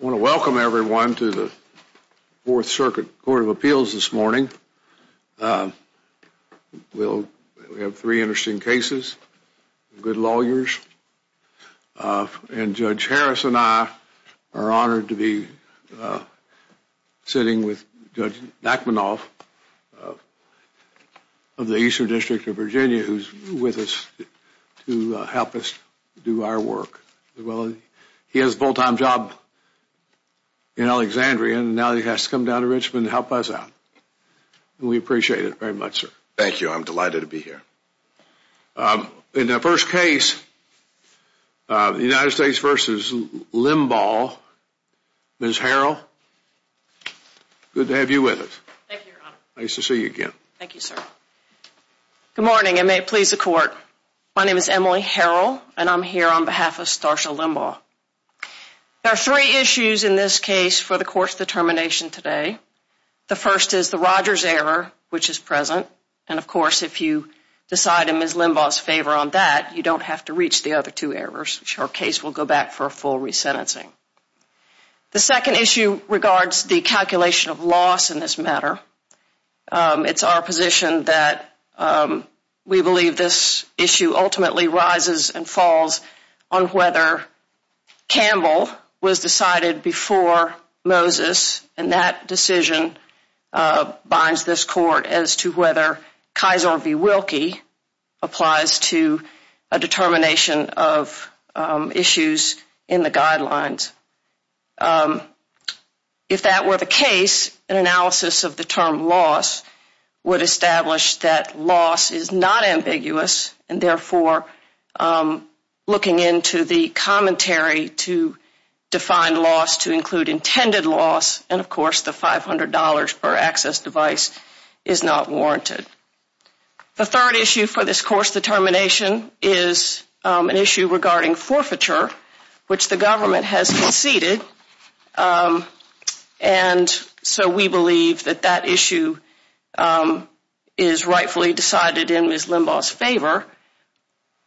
I want to welcome everyone to the Fourth Circuit Court of Appeals this morning. We have three interesting cases, good lawyers, and Judge Harris and I are honored to be sitting with Judge Nachmanoff of the Eastern District of Virginia, who's with us to help us do our work. Well, he has a full-time job in Alexandria, and now he has to come down to Richmond to help us out. We appreciate it very much, sir. Thank you. I'm delighted to be here. In the first case, the United States v. Limbaugh, Ms. Harrell, good to have you with us. Thank you, Your Honor. Nice to see you again. Thank you, sir. Good morning, and may it please the Court. My name is Emily Harrell, and I'm here on behalf of Starsha Limbaugh. There are three issues in this case for the Court's determination today. The first is the Rogers error, which is present, and of course, if you decide in Ms. Limbaugh's favor on that, you don't have to reach the other two errors, which her case will go back for a full resentencing. The second issue regards the calculation of loss in this matter. It's our position that we believe this issue ultimately rises and falls on whether Campbell was decided before Moses, and that decision binds this Court as to whether Keyser v. Wilkie applies to a determination of issues in the guidelines. If that were the case, an analysis of the loss is not ambiguous, and therefore, looking into the commentary to define loss to include intended loss, and of course, the $500 per access device is not warranted. The third issue for this Court's determination is an issue regarding forfeiture, which the Court has decided in Ms. Limbaugh's favor.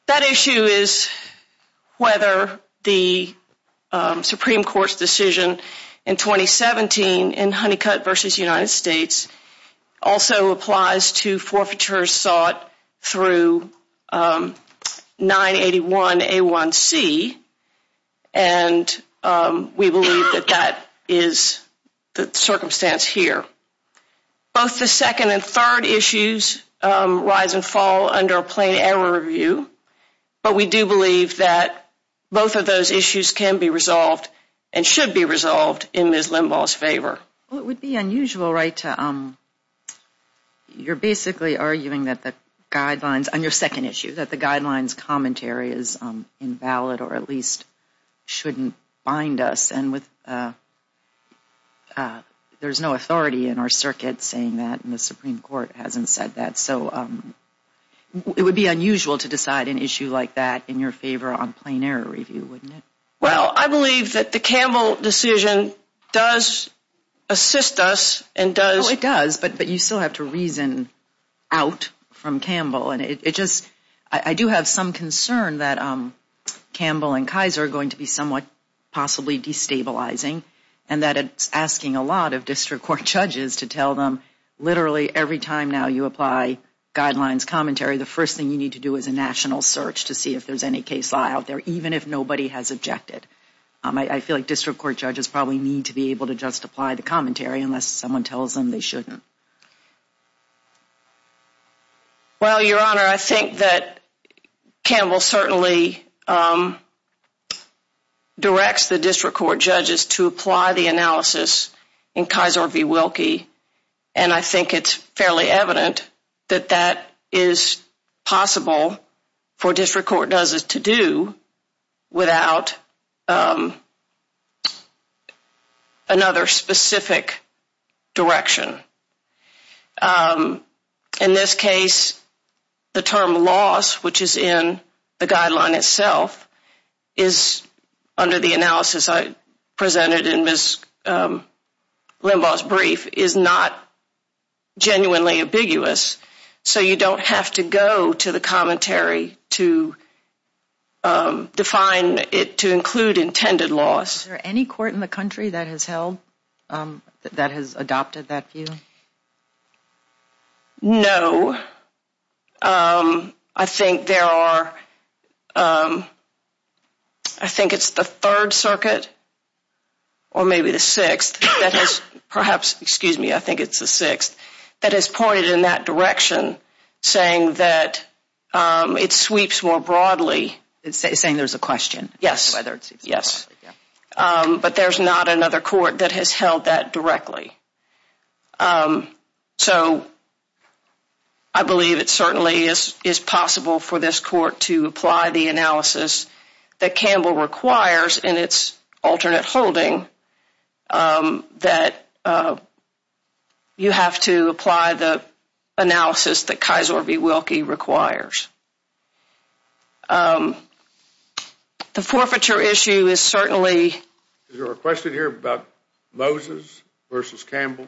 That issue is whether the Supreme Court's decision in 2017 in Honeycutt v. United States also applies to forfeiture sought through 981A1C, and we believe that that is the circumstance here. Both the second and third issues rise and fall under a plain error view, but we do believe that both of those issues can be resolved and should be resolved in Ms. Limbaugh's favor. Well, it would be unusual, right, to you're basically arguing that the guidelines on your second issue, that the guidelines commentary is invalid or at least shouldn't bind us, and there's no authority in our circuit saying that, and the Supreme Court hasn't said that, so it would be unusual to decide an issue like that in your favor on plain error review, wouldn't it? Well, I believe that the Campbell decision does assist us and does Well, it does, but you still have to reason out from Campbell, and I do have some concern that Campbell and Kaiser are going to be somewhat possibly destabilizing, and that it's asking a lot of district court judges to tell them literally every time now you apply guidelines commentary, the first thing you need to do is a national search to see if there's any case law out there, even if nobody has objected. I feel like district court judges probably need to be able to just apply the commentary unless someone tells them they shouldn't. Well, Your Honor, I think that Campbell certainly directs the district court judges to apply the analysis in Kaiser v. Wilkie, and I think it's fairly evident that that is possible for district court judges to do without another specific direction. In this case, the term loss, which is in the guideline itself, is under the analysis I presented in Ms. Limbaugh's genuinely ambiguous, so you don't have to go to the commentary to define it, to include intended loss. Is there any court in the country that has held, that has adopted that view? No. I think there are, I think it's the Third Circuit, or maybe the Sixth, that has perhaps, excuse me, I think it's the Sixth, that has pointed in that direction, saying that it sweeps more broadly. It's saying there's a question. Yes. But there's not another court that has held that directly. So, I believe it certainly is possible for this court to apply the analysis that Campbell requires in its alternate holding that you have to apply the analysis that Kaiser v. Wilkie requires. The forfeiture issue is certainly... Is there a question here about Moses versus Campbell?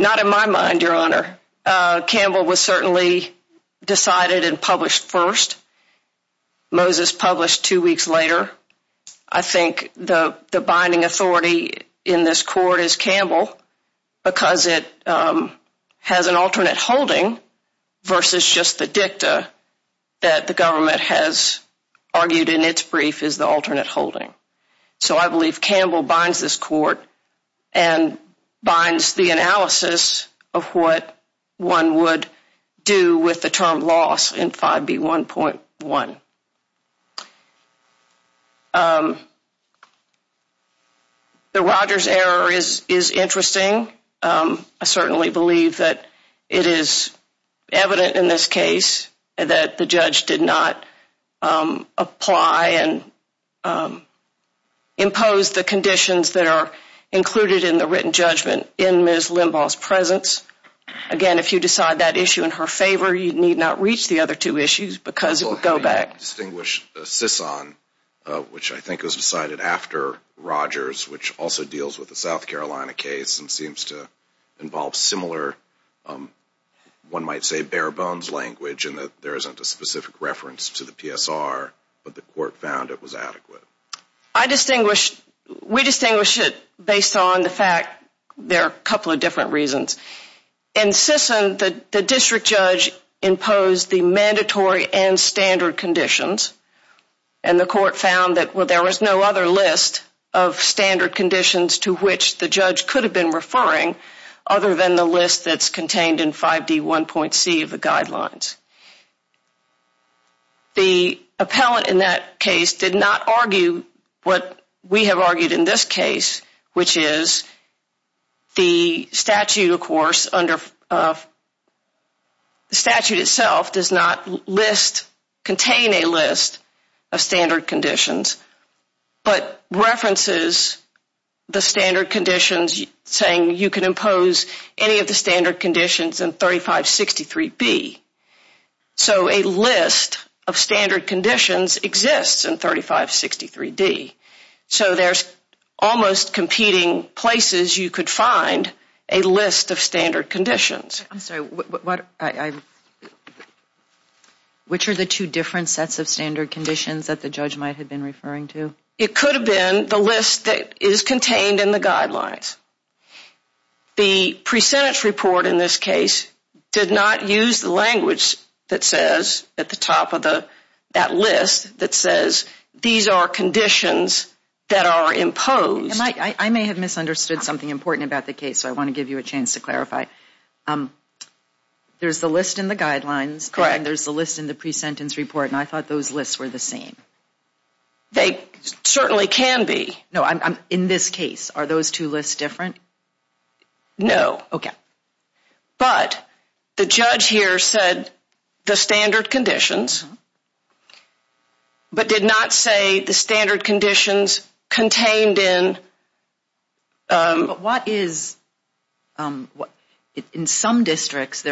Not in my mind, Your Honor. Campbell was certainly decided and published first. Moses published two weeks later. I think the binding authority in this court is Campbell because it has an alternate holding versus just the dicta that the government has argued in its brief is the alternate holding. So, I believe Campbell binds this court and binds the analysis of what one would do with the term loss in 5B1.1. The Rogers error is interesting. I certainly believe that it is evident in this case that the judge did not apply and impose the conditions that are included in the written judgment in Ms. Limbaugh's presence. Again, if you decide that issue in her favor, you need not reach the other two issues because it would go back. So, how do you distinguish CISON, which I think was decided after Rogers, which also deals with the South Carolina case and seems to involve similar, one might say, bare-bones language in that there isn't a specific reference to the PSR, but the court found it was adequate? I distinguish, we distinguish it based on the fact there are a couple of different reasons. In CISON, the district judge imposed the mandatory and standard conditions and the court found that there was no other list of standard conditions to which the judge could have been referring other than the list that's contained in 5D1.C of the guidelines. The appellant in that case did not argue what we have argued in this case, which is the statute, of course, the statute itself does not contain a list of standard conditions but references the standard conditions saying you can impose any of the standard conditions in 3563B. So, a list of standard conditions exists in 3563D. So, there's almost competing places you could find a list of standard conditions. I'm sorry, which are the two different sets of standard conditions that the judge might have been referring to? It could have been the list that is contained in the guidelines. The pre-sentence report in this case did not use the language that says at the top of that list that says these are conditions that are imposed. I may have misunderstood something important about the case, so I want to give you a chance to clarify. There's the list in the guidelines and there's the list in the pre-sentence report and I thought those lists were the same. They certainly can be. In this case, are those two lists different? No. Okay. But the judge here said the standard conditions but did not say the standard conditions contained in... But what is... In some districts,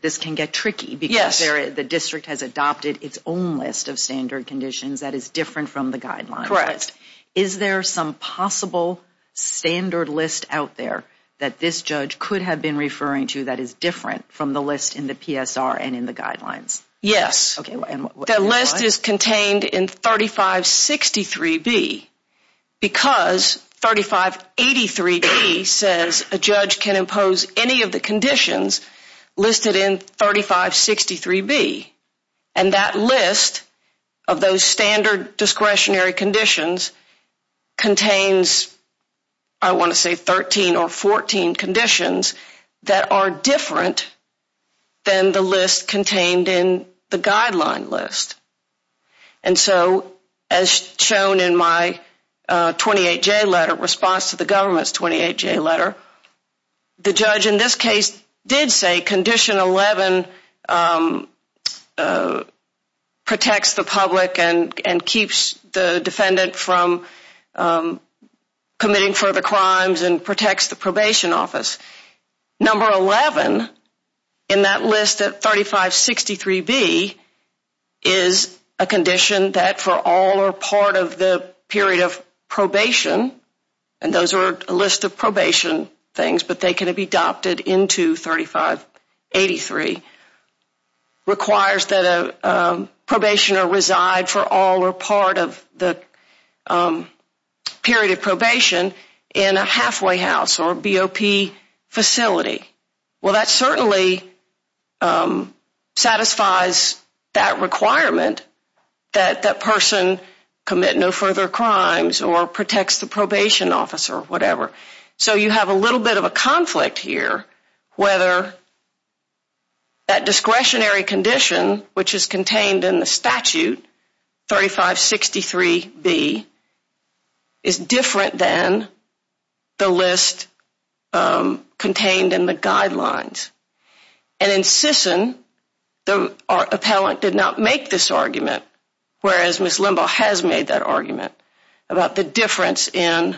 this can get tricky because the district has adopted its own list of standard conditions that is different from the guidelines. Correct. Is there some possible standard list out there that this judge could have been referring to that is different from the list in the PSR and in the guidelines? Yes. The list is contained in 3563B because 3583B says a judge can impose any of the conditions listed in 3563B and that list of those standard discretionary conditions contains I want to say 13 or 14 conditions that are different than the list contained in the guideline list. And so, as shown in my 28J letter, response to the government's 28J letter, the judge in this case did say condition 11 protects the public and keeps the defendant from committing further crimes and protects the probation office. Number 11 in that list of 3563B is a condition that for all or part of the period of probation, and those are a list of probation things, but they can be adopted into 3583, requires that a probationer reside for all or part of the period of probation in a halfway house or BOP facility. Well, that certainly satisfies that requirement that that person commit no further crimes or protects the probation officer or whatever. So, you have a little bit of a conflict here whether that discretionary condition, which is contained in the statute, 3563B, is different than the guidelines. And in Sisson, the appellant did not make this argument, whereas Ms. Limbaugh has made that argument about the difference in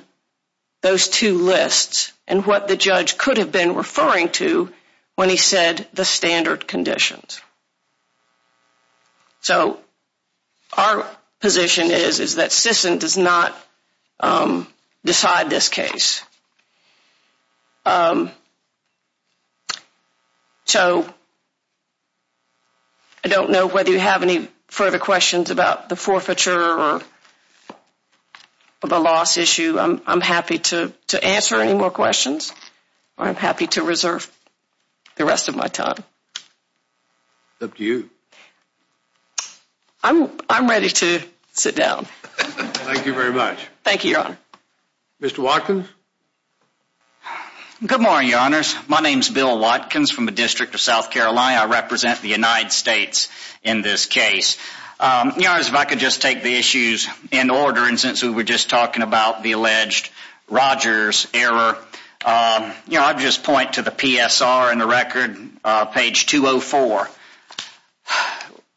those two lists and what the judge could have been referring to when he said the standard conditions. So, our position is that Sisson does not decide this case. So, I don't know whether you have any further questions about the forfeiture or the loss issue. I'm happy to answer any more questions or I'm happy to reserve the rest of my time. Up to you. I'm ready to sit down. Thank you very much. Thank you, Your Honor. Mr. Watkins? Good morning, Your Honors. My name is Bill Watkins from the District of South Carolina. I represent the United States in this case. Your Honors, if I could just take the issues in order, and since we were just talking about the alleged Rogers error, you know, I'd just point to the PSR in the record, page 204.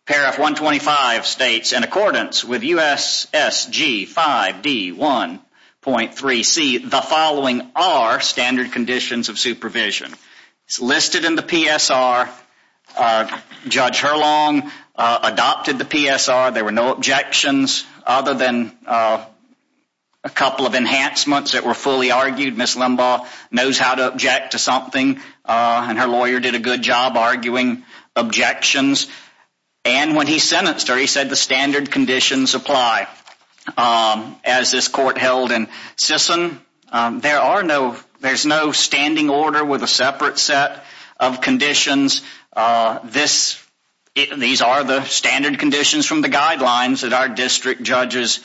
Paragraph 125 states, in accordance with USSG 5D 1.3C, the following are standard conditions of supervision. It's listed in the PSR. Judge Herlong adopted the PSR. There were no objections other than a couple of enhancements that were fully argued. Ms. Limbaugh knows how to object to something and her lawyer did a good job arguing objections. And when he sentenced her, he said the standard conditions apply. As this court held in Sisson, there are no, there's no standing order with a separate set of conditions. These are the standard conditions from the guidelines that our district judges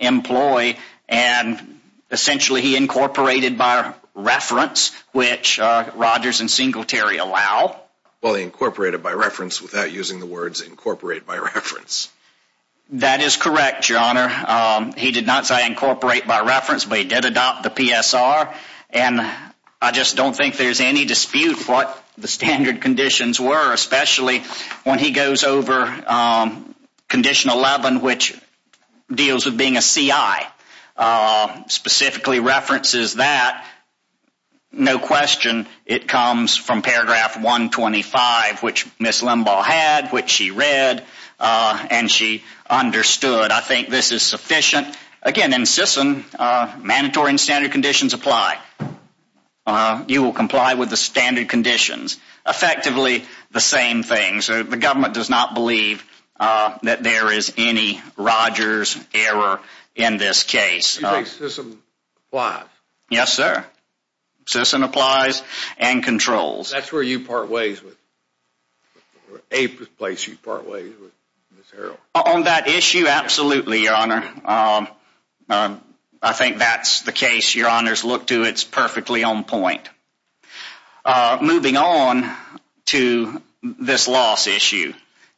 employ, and essentially he incorporated by reference, which Rogers and Singletary allow. Well, he incorporated by reference without using the words incorporate by reference. That is correct, Your Honor. He did not say incorporate by reference, but he did adopt the PSR. And I just don't think there's any dispute what the standard conditions were, especially when he goes over condition 11, which deals with being a CI, specifically references that. No question it comes from paragraph 125, which Ms. Limbaugh had, which she read, and she understood. I think this is sufficient. Again, in Sisson, mandatory and standard conditions apply. You will comply with the standard conditions. Effectively, the same thing. So the government does not believe that there is any Rogers error in this case. You think Sisson applies? Yes, sir. Sisson applies and controls. That's where you part ways with, or a place you part ways with Ms. Harrell. On that issue, absolutely, Your Honor. I think that's the case Your Honors look to. It's perfectly on point. Moving on to this loss issue,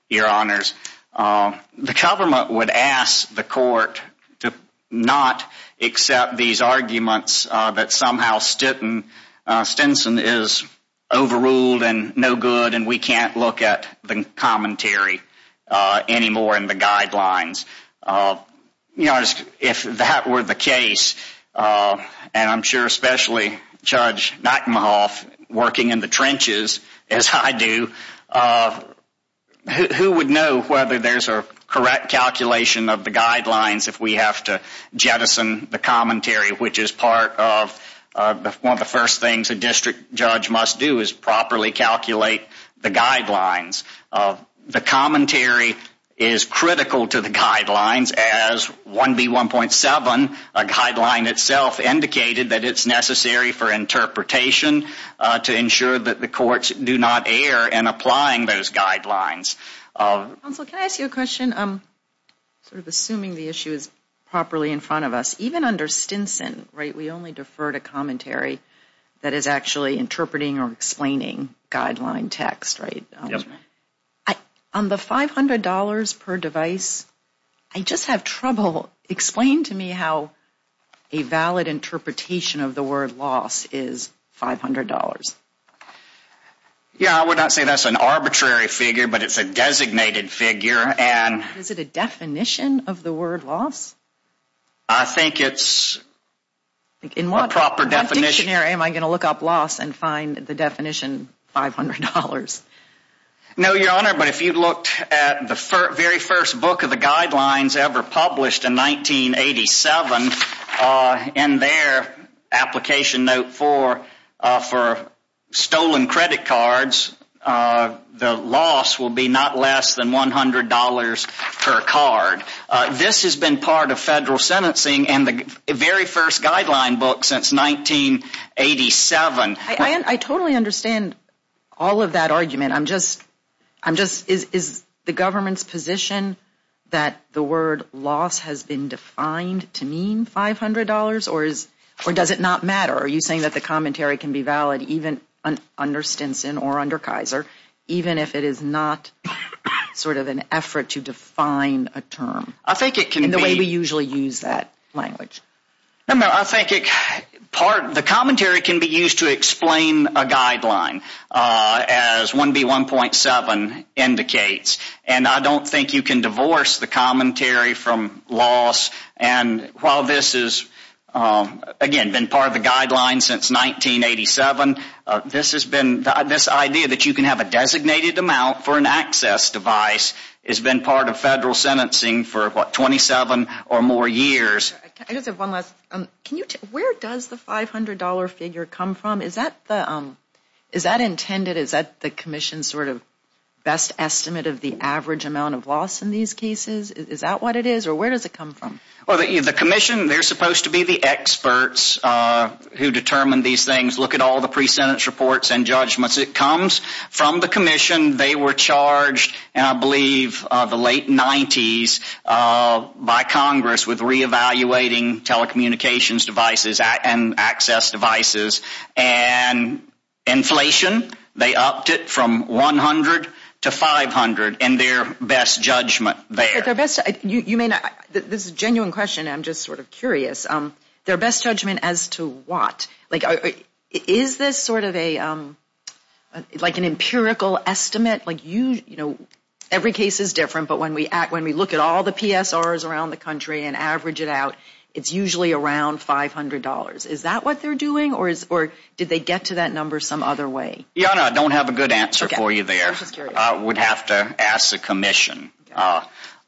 Your Honors. The government would ask the court to not accept these arguments that somehow Stinson is overruled and no good and we can't look at the commentary anymore in the guidelines. If that were the case, and I'm sure especially Judge Nightingale working in the trenches, as I do, who would know whether there's a correct calculation of the guidelines if we have to jettison the commentary, which is part of one of the first things a district judge must do is properly calculate the guidelines. The commentary is critical to the guidelines as 1B1.7, a guideline itself, indicated that it's necessary for interpretation to ensure that the courts do not err in applying those guidelines. Counsel, can I ask you a question? Assuming the issue is properly in front of us, even under Stinson, right, we only defer to commentary that is actually interpreting or explaining guideline text, right? Yes, ma'am. On the $500 per device, I just have trouble, explain to me how a valid interpretation of the word loss is $500. Yeah, I would not say that's an arbitrary figure, but it's a designated figure and Is it a definition of the word loss? I think it's a proper definition Am I going to look up loss and find the definition $500? No, Your Honor, but if you looked at the very first book of the guidelines ever published in 1987, in their application note for stolen credit cards, the loss will be not less than $100 per card. This has been part of federal sentencing and the very first guideline book since 1987. I totally understand all of that argument. I'm just, is the government's position that the word loss has been defined to mean $500, or does it not matter? Are you saying that the commentary can be valid even under Stinson or under Kaiser, even if it is not sort of an effort to define a term in the way we usually use that language? I think the commentary can be used to explain a guideline, as 1B1.7 indicates, and I don't think you can divorce the commentary from loss, and while this has, again, been part of the guidelines since 1987, this idea that you can have a designated amount for an access device has been part of federal sentencing for, what, 27 or more years. I just have one last, where does the $500 figure come from? Is that the, is that intended, is that the commission's sort of best estimate of the average amount of loss in these cases? Is that what it is, or where does it come from? The commission, they're supposed to be the experts who determine these things, look at all the pre-sentence reports and judgments. It comes from the commission. They were charged, and I believe the late 90s, by Congress with reevaluating telecommunications devices and access devices and inflation, they upped it from 100 to 500 and their best judgment there. You may not, this is a genuine question, I'm just sort of curious, their best judgment as to what? Like, is this sort of a, like an empirical estimate? Like, you, you know, every case is different, but when we look at all the PSRs around the country and average it out, it's usually around $500. Is that what they're doing, or is, or did they get to that number some other way? Yonah, I don't have a good answer for you there. I'm just curious. I would have to ask the commission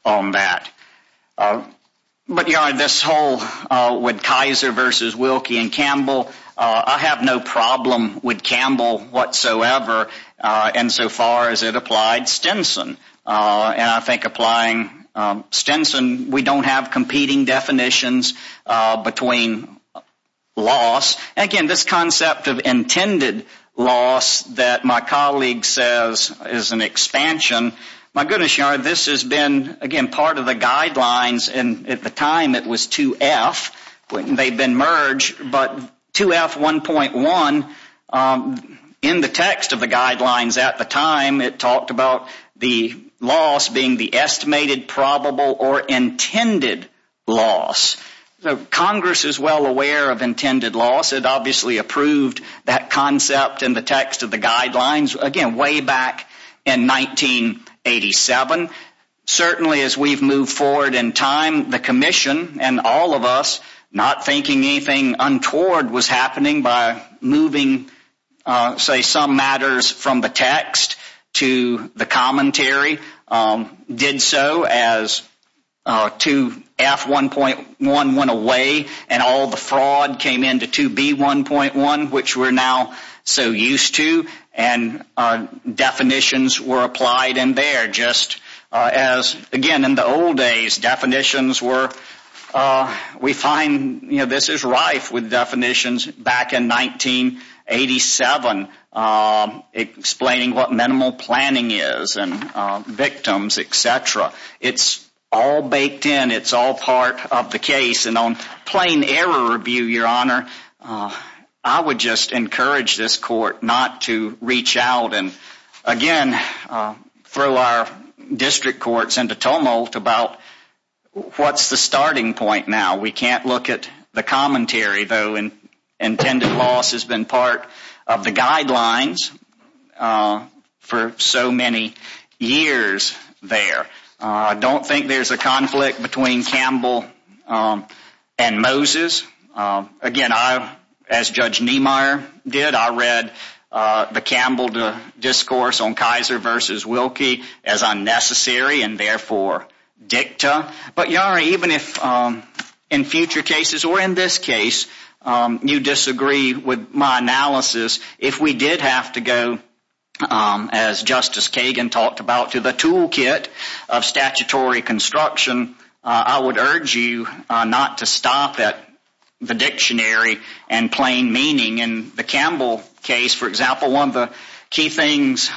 on that. But, Yonah, this whole, with Kaiser versus Wilkie and Campbell, I have no problem with Campbell whatsoever insofar as it relates to, I think, applying Stinson. We don't have competing definitions between loss. Again, this concept of intended loss that my colleague says is an expansion, my goodness, Yonah, this has been, again, part of the guidelines, and at the time it was 2F. They've been merged, but 2F1.1, in the text of the guidelines at the time, it talked about the loss being the estimated, probable, or intended loss. Congress is well aware of intended loss. It obviously approved that concept in the text of the guidelines, again, way back in 1987. Certainly, as we've moved forward in time, the commission and all of us not thinking anything untoward was referring the text to the commentary, did so as 2F1.1 went away and all the fraud came into 2B1.1, which we're now so used to, and definitions were applied in there just as, again, in the old days, definitions were, we find, you know, this is rife with definitions back in 1987 explaining what minimal planning is and victims, etc. It's all baked in. It's all part of the case, and on plain error review, Your Honor, I would just encourage this court not to reach out and, again, throw our district courts into tumult about what's the starting point now. We can't look at the commentary, though, and intended loss has been part of the guidelines for so many years there. I don't think there's a conflict between Campbell and Moses. Again, as Judge Niemeyer did, I read the Campbell discourse on Kaiser v. Wilkie as unnecessary and, therefore, dicta. But, Your Honor, even if in future cases or in this case you disagree with my analysis, if we did have to go, as Justice Kagan talked about, to the toolkit of statutory construction, I would urge you not to stop at the dictionary and plain meaning. In the Campbell case, for example, one of the key things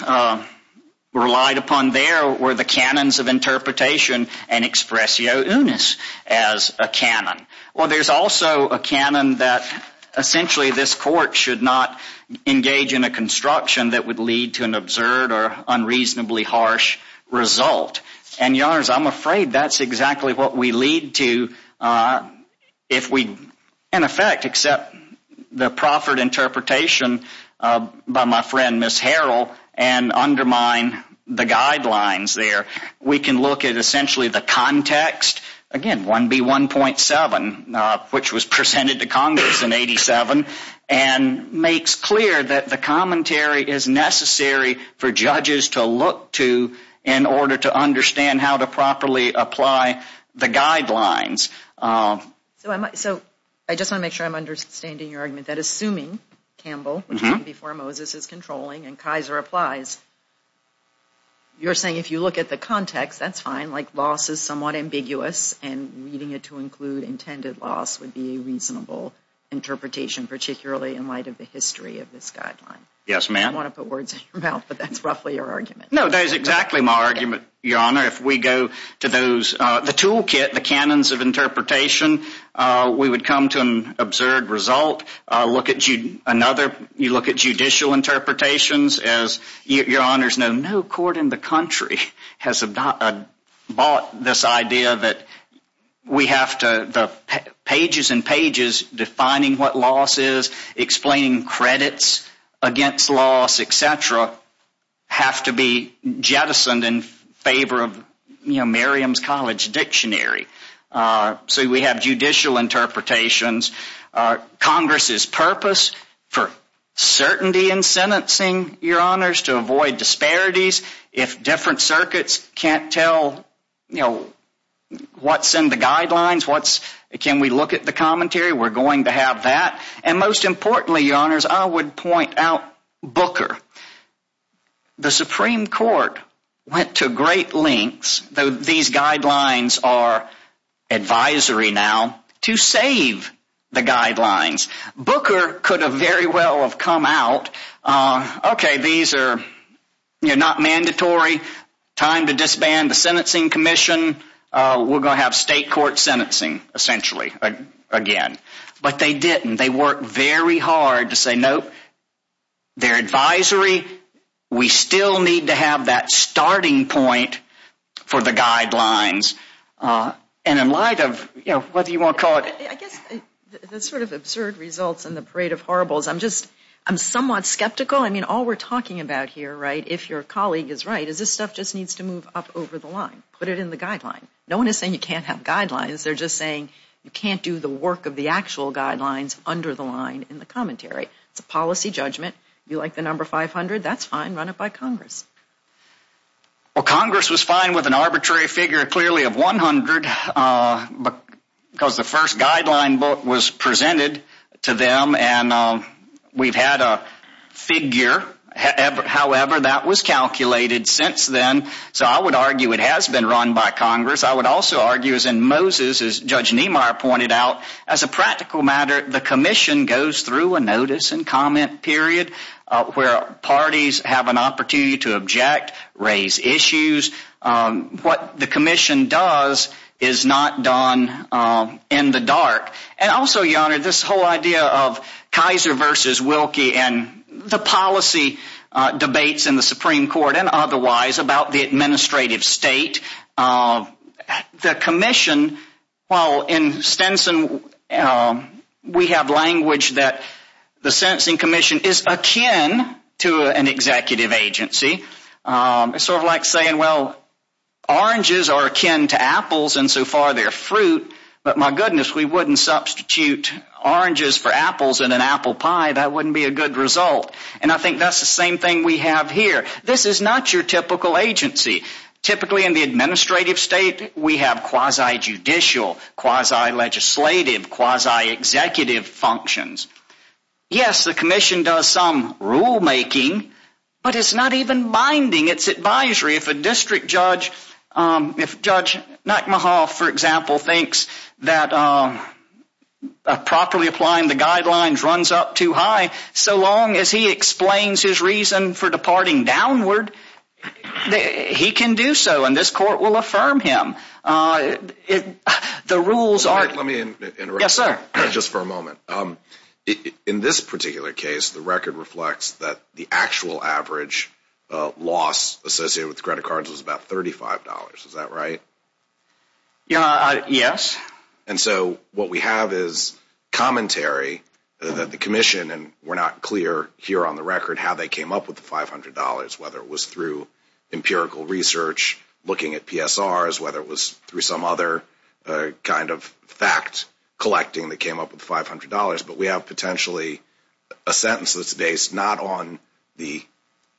relied upon there were the canons of interpretation and expressio unis as a canon. Well, there's also a canon that, essentially, this court should not engage in a construction that would lead to an absurd or unreasonably harsh result. And, Your Honor, I'm afraid that's exactly what we lead to if we, in effect, accept the proffered interpretation by my friend, Ms. Harrell, and undermine the guidelines there. We can look at, essentially, the context, again, 1B1.7, which was presented to Congress in 87, and makes clear that the commentary is necessary for judges to look to in order to understand how to properly apply the guidelines. So, I just want to make sure I'm understanding your argument that assuming Campbell, before Moses, is controlling and Kaiser applies, you're saying if you look at the context, that's fine, like loss is somewhat ambiguous, and needing it to include intended loss would be a reasonable interpretation, particularly in light of the history of this guideline. Yes, ma'am. I don't want to put words in your mouth, but that's roughly your argument. No, that is exactly my argument, Your Honor. If we go to the toolkit, the canons of interpretation, we would come to an absurd result. You look at judicial interpretations, as Your Honors know, no court in the country has bought this idea that we have to, pages and pages defining what loss is, explaining credits against loss, etc., have to be jettisoned in favor of Miriam's College Dictionary. So, we have judicial interpretations. Congress's purpose for certainty in sentencing, Your Honors, to avoid disparities, if different circuits can't tell what's in the guidelines, can we look at the commentary? We're going to have that. And most importantly, Your Honors, I would point out Booker. The Supreme Court went to great lengths, though these guidelines are advisory now, to save the guidelines. Booker could have very well have come out, okay, these are not mandatory, time to disband the Sentencing Commission, we're going to have state court sentencing, essentially, again. But they didn't. They worked very hard to say, nope, they're advisory, we still need to have that starting point for the guidelines. And in light of, what do you want to call it? I guess the sort of absurd results in the parade of horribles, I'm somewhat skeptical. I mean, all we're talking about here, if your colleague is right, is this stuff just needs to move up over the line, put it in the guideline. No one is saying you can't have guidelines, they're just saying you can't do the work of the actual guidelines under the line in the commentary. It's a policy judgment. You like the number 500, that's fine, run it by Congress. Well, Congress was fine with an arbitrary figure, clearly of 100, because the first guideline book was presented to them and we've had a figure, however, that was calculated since then. So I would argue it has been run by Congress. I would also argue, as in Moses, as Judge Niemeyer pointed out, as a practical matter, the commission goes through a notice and comment period where parties have an opportunity to object, raise issues. What the commission does is not done in the dark. And also, Your Honor, this whole idea of Kaiser versus Wilkie and the policy debates in the Supreme Court and otherwise about the administrative state. The commission, while in Stenson we have language that the sentencing commission is akin to an executive agency. It's sort of like saying, well, oranges are akin to apples and so far they're fruit, but my goodness, we wouldn't substitute oranges for apples in an apple pie. That wouldn't be a good result. And I think that's the same thing we have here. This is not your typical agency. Typically in the administrative state we have quasi-judicial, quasi-legislative, quasi-executive functions. Yes, the commission does some rulemaking, but it's not even binding. It's advisory. If a district judge, if Judge Nackmahoff, for example, thinks that properly applying the guidelines runs up too high, so long as he explains his reason for departing downward, he can do so and this court will affirm him. The rules are... Let me interrupt. Yes, sir. Just for a moment. In this particular case, the record reflects that the actual average loss associated with credit cards was about $35. Is that right? Yes. And so what we have is commentary that the commission and we're not clear here on the record how they came up with the $500, whether it was through empirical research, looking at PSRs, whether it was through some other kind of fact collecting that came up with the $500, but we have potentially a sentence that's based not on the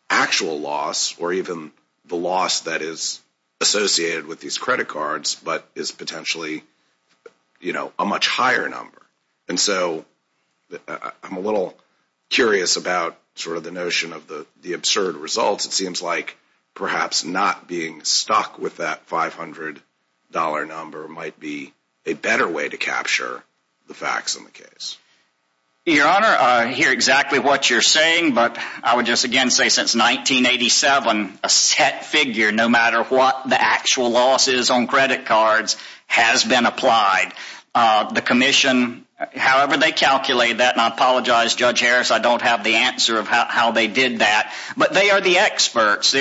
actual loss or even the loss that is associated with these credit cards but is potentially a much higher number. And so I'm a little curious about the notion of the absurd results. It seems like perhaps not being stuck with that $500 number might be a better way to capture the facts in the case. Your Honor, I hear exactly what you're saying, but I would just again say since 1987 a set figure, no matter what the actual loss is on credit cards has been applied. The commission, however they calculate that, and I apologize Judge Harris, I don't have the answer of how they did that, but they are the experts.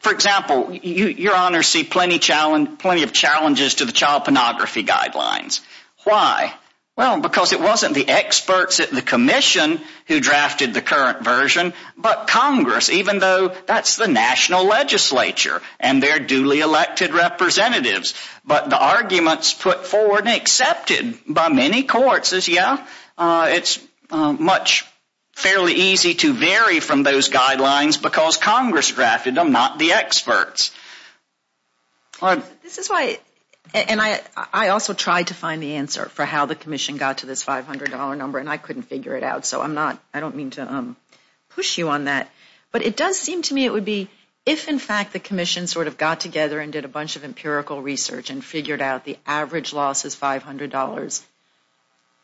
For example, Your Honor see plenty of challenges to the child pornography guidelines. Why? Well, because it wasn't the experts at the commission who drafted the current version, but Congress even though that's the national legislature and their duly elected representatives. But the arguments put forward and accepted by many courts is yeah, it's much fairly easy to vary from those guidelines because Congress drafted them, not the experts. This is why, and I also tried to find the answer for how the commission got to this $500 number and I couldn't figure it out, so I'm not I don't mean to push you on that. But it does seem to me it would be if in fact the commission sort of got together and did a bunch of empirical research and figured out the average loss is $500.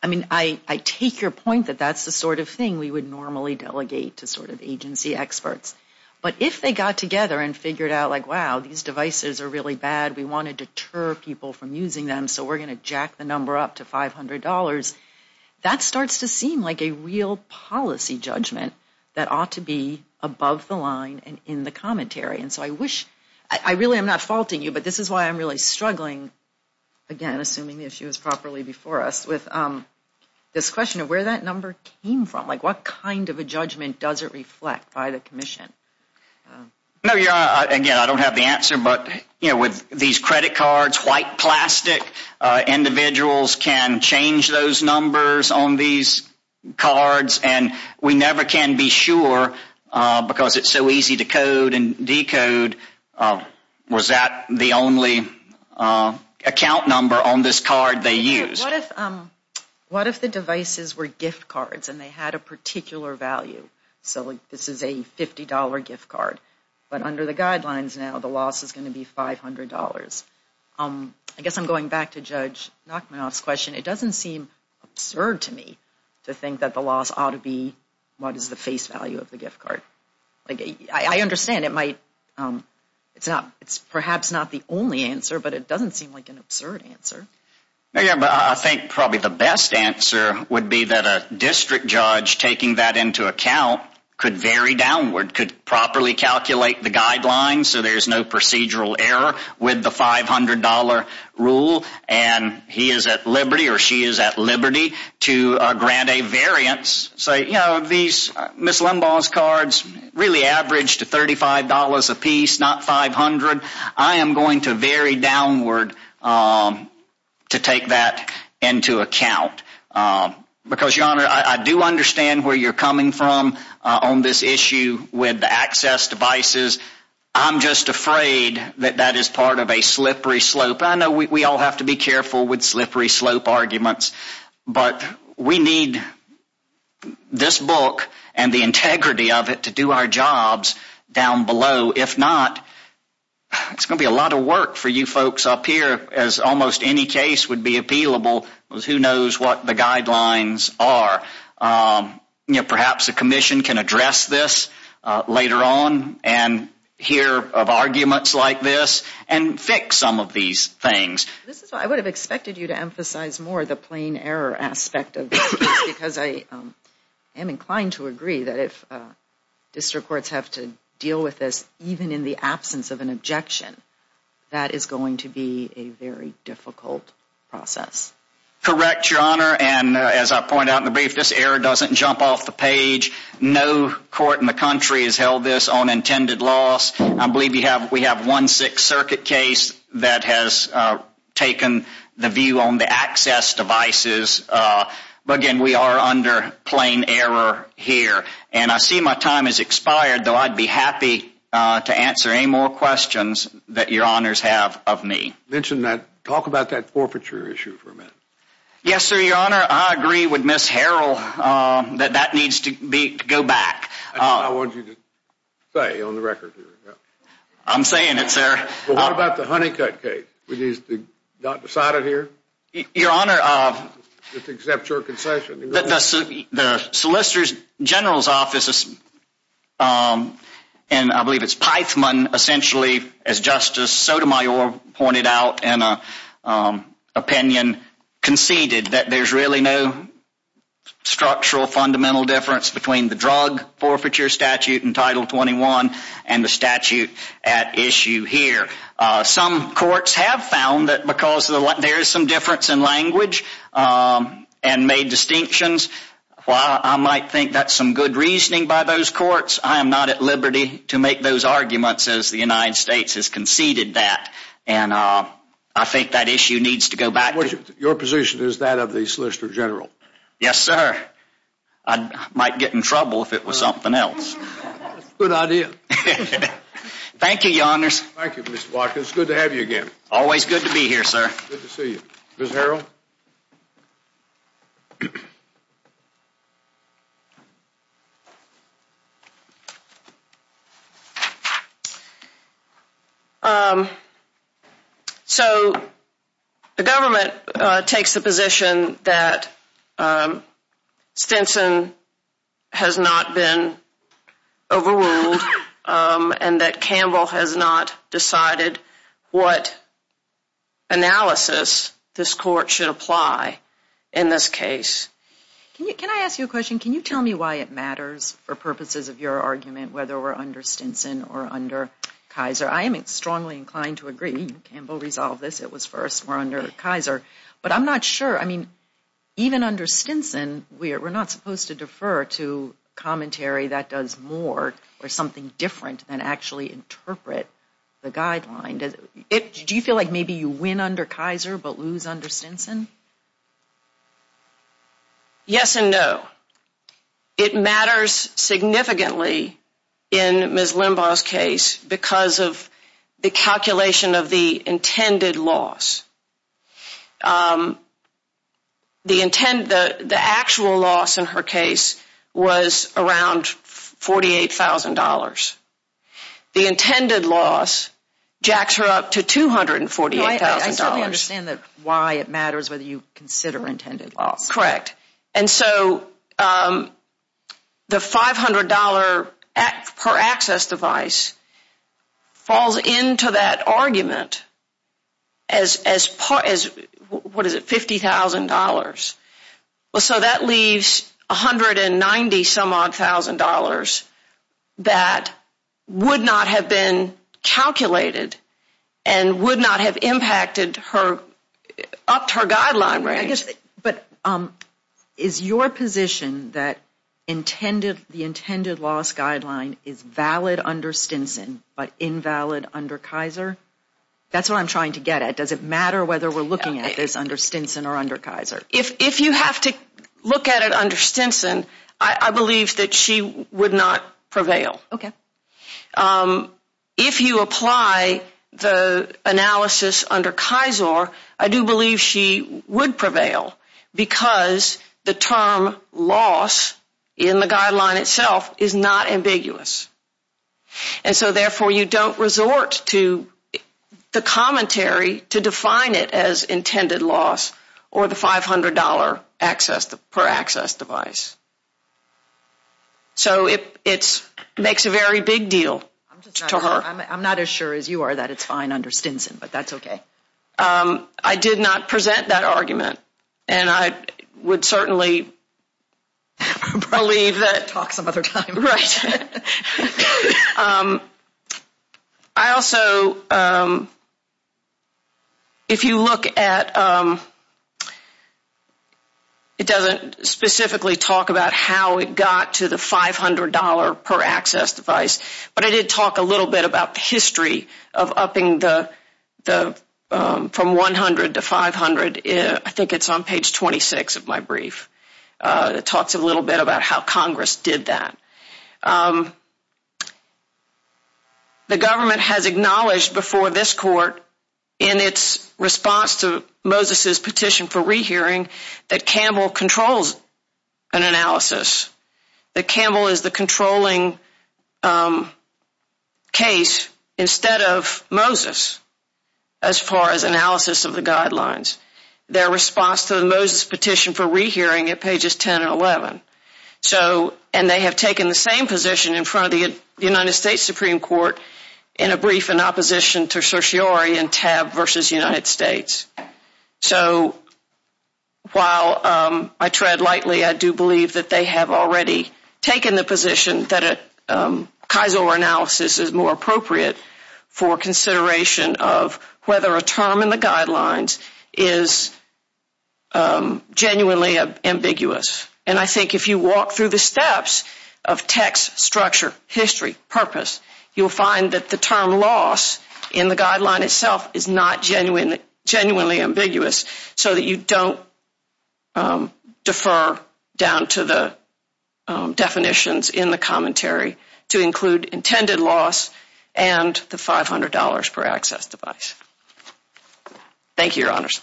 I mean I take your point that that's the sort of thing we would normally delegate to sort of agency experts. But if they got together and figured out like wow, these devices are really bad we want to deter people from using them so we're going to jack the number up to $500 that starts to seem like a real policy judgment that ought to be above the line and in the commentary and so I wish, I really am not faulting you, but this is why I'm really struggling again, assuming the issue is properly before us, with this question of where that number came from, like what kind of a judgment does it reflect by the commission? No, again, I don't have the answer, but with these credit cards, white plastic individuals can change those numbers on these cards and we never can be sure because it's so easy to code and decode was that the only account number on this card they used? What if the devices were gift cards and they had a particular value? So this is a $50 gift card but under the guidelines now, the loss is going to be $500. I guess I'm going back to Judge Nachmanoff's question. It doesn't seem absurd to me to think that the loss ought to be what is the face value of the gift card. I understand it might it's perhaps not the only answer, but it doesn't seem like an absurd answer. I think probably the best answer would be that a district judge taking that into account could vary downward, could properly calculate the guidelines so there's no procedural error with the $500 rule and he is at liberty or she is at liberty to grant a variance say, you know, these Ms. Limbaugh's cards really average to $35 a piece not $500. I am going to vary downward to take that into account because, Your Honor, I do understand where you're coming from on this issue with access devices I'm just afraid that that is part of a slippery slope. I know we all have to be careful with slippery slope arguments but we need this book and the integrity of it to do our jobs down below. If not it's going to be a lot of work for you folks up here as almost any case would be appealable who knows what the guidelines are. Perhaps a commission can address this later on and hear of arguments like this and fix some of these things. I would have expected you to emphasize more the plain error aspect of this because I am inclined to agree that if district courts have to deal with this even in the absence of an objection that is going to be a very difficult process. Correct, Your Honor, and as I pointed out in the brief, this error doesn't jump off the page. No court in the country has held this on intended loss. I believe we have one Sixth Circuit case that has taken the view on the access devices but again, we are under plain error here and I see my time has expired though I'd be happy to answer any more questions that Your Honors have of me. Talk about that forfeiture issue for a minute. Yes, Your Honor, I agree with Ms. Harrell that that needs to go back. I don't know what you say on the record. I'm saying it, sir. What about the Honeycutt case? Was it decided here? Your Honor, the Solicitor's General's Office and I believe it's Pythamon essentially as Justice Sotomayor pointed out in a opinion conceded that there's really no structural fundamental difference between the drug forfeiture statute in Title 21 and the statute at issue here. Some courts have found that because there is some difference in language and made distinctions, while I might think that's some good reasoning by those courts, I am not at liberty to make those arguments as the United States has conceded that. I think that issue needs to go back. Your position is that of the Solicitor General? Yes, sir. I might get in trouble if it was something else. Good idea. Thank you, Your Honors. Thank you, Mr. Watkins. Good to have you again. Always good to be here, sir. Good to see you. Ms. Harrell? So, the government takes the position that Stinson has not been overruled and that Campbell has not decided what analysis this court should apply in this case. Can I ask you a question? Can you tell me why it matters for purposes of your argument whether we're understanding under Stinson or under Kaiser? I am strongly inclined to agree. Campbell resolved this. It was first. We're under Kaiser. But I'm not sure, I mean even under Stinson we're not supposed to defer to commentary that does more or something different than actually interpret the guideline. Do you feel like maybe you win under Kaiser but lose under Stinson? Yes and no. It matters significantly in Ms. Limbaugh's case because of the calculation of the intended loss. The actual loss in her case was around $48,000. The intended loss jacks her up to $248,000. I certainly understand why it matters whether you consider intended loss. Correct. And so the $500 per access device falls into that argument as $50,000. So that leaves $190 some odd thousand dollars that would not have been calculated and would not have impacted her up to her guideline range. Is your position that the intended loss guideline is valid under Stinson but invalid under Kaiser? That's what I'm trying to get at. Does it matter whether we're looking at this under Stinson or under Kaiser? If you have to look at it under Stinson I believe that she would not prevail. If you apply the analysis under Kaiser I do believe she would prevail because the term loss in the guideline itself is not ambiguous. And so therefore you don't resort to the commentary to define it as intended loss or the $500 per access device. So it makes a very big deal to her. I'm not as sure as you are that it's fine under Stinson, but that's okay. I did not present that argument and I would certainly believe that Talk some other time. Right. I also if you look at it doesn't specifically talk about how it got to the $500 per access device but I did talk a little bit about the history of upping from $100 to $500 I think it's on page 26 of my brief that talks a little bit about how Congress did that. The government has acknowledged before this court in its response to Moses's petition for rehearing that Campbell controls an analysis. That Campbell is the controlling case instead of Moses as far as analysis of the guidelines. Their response to Moses's petition for rehearing at pages 10 and 11 so and they have taken the same position in front of the United States Supreme Court in a brief in opposition to certiorari and tab versus United States. So while I tread lightly I do believe that they have already taken the position that Kisor analysis is more appropriate for consideration of whether a term in the guidelines is genuinely ambiguous and I think if you walk through the steps of text, structure, history, purpose you'll find that the term loss in the guideline itself is not genuinely ambiguous so that you don't defer down to the definitions in the commentary to include intended loss and the $500 per access device. Thank you, your honors.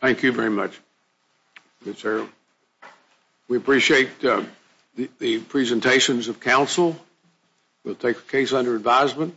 Thank you very much Ms. Harrell. We appreciate the presentations of counsel We'll take the case under advisement.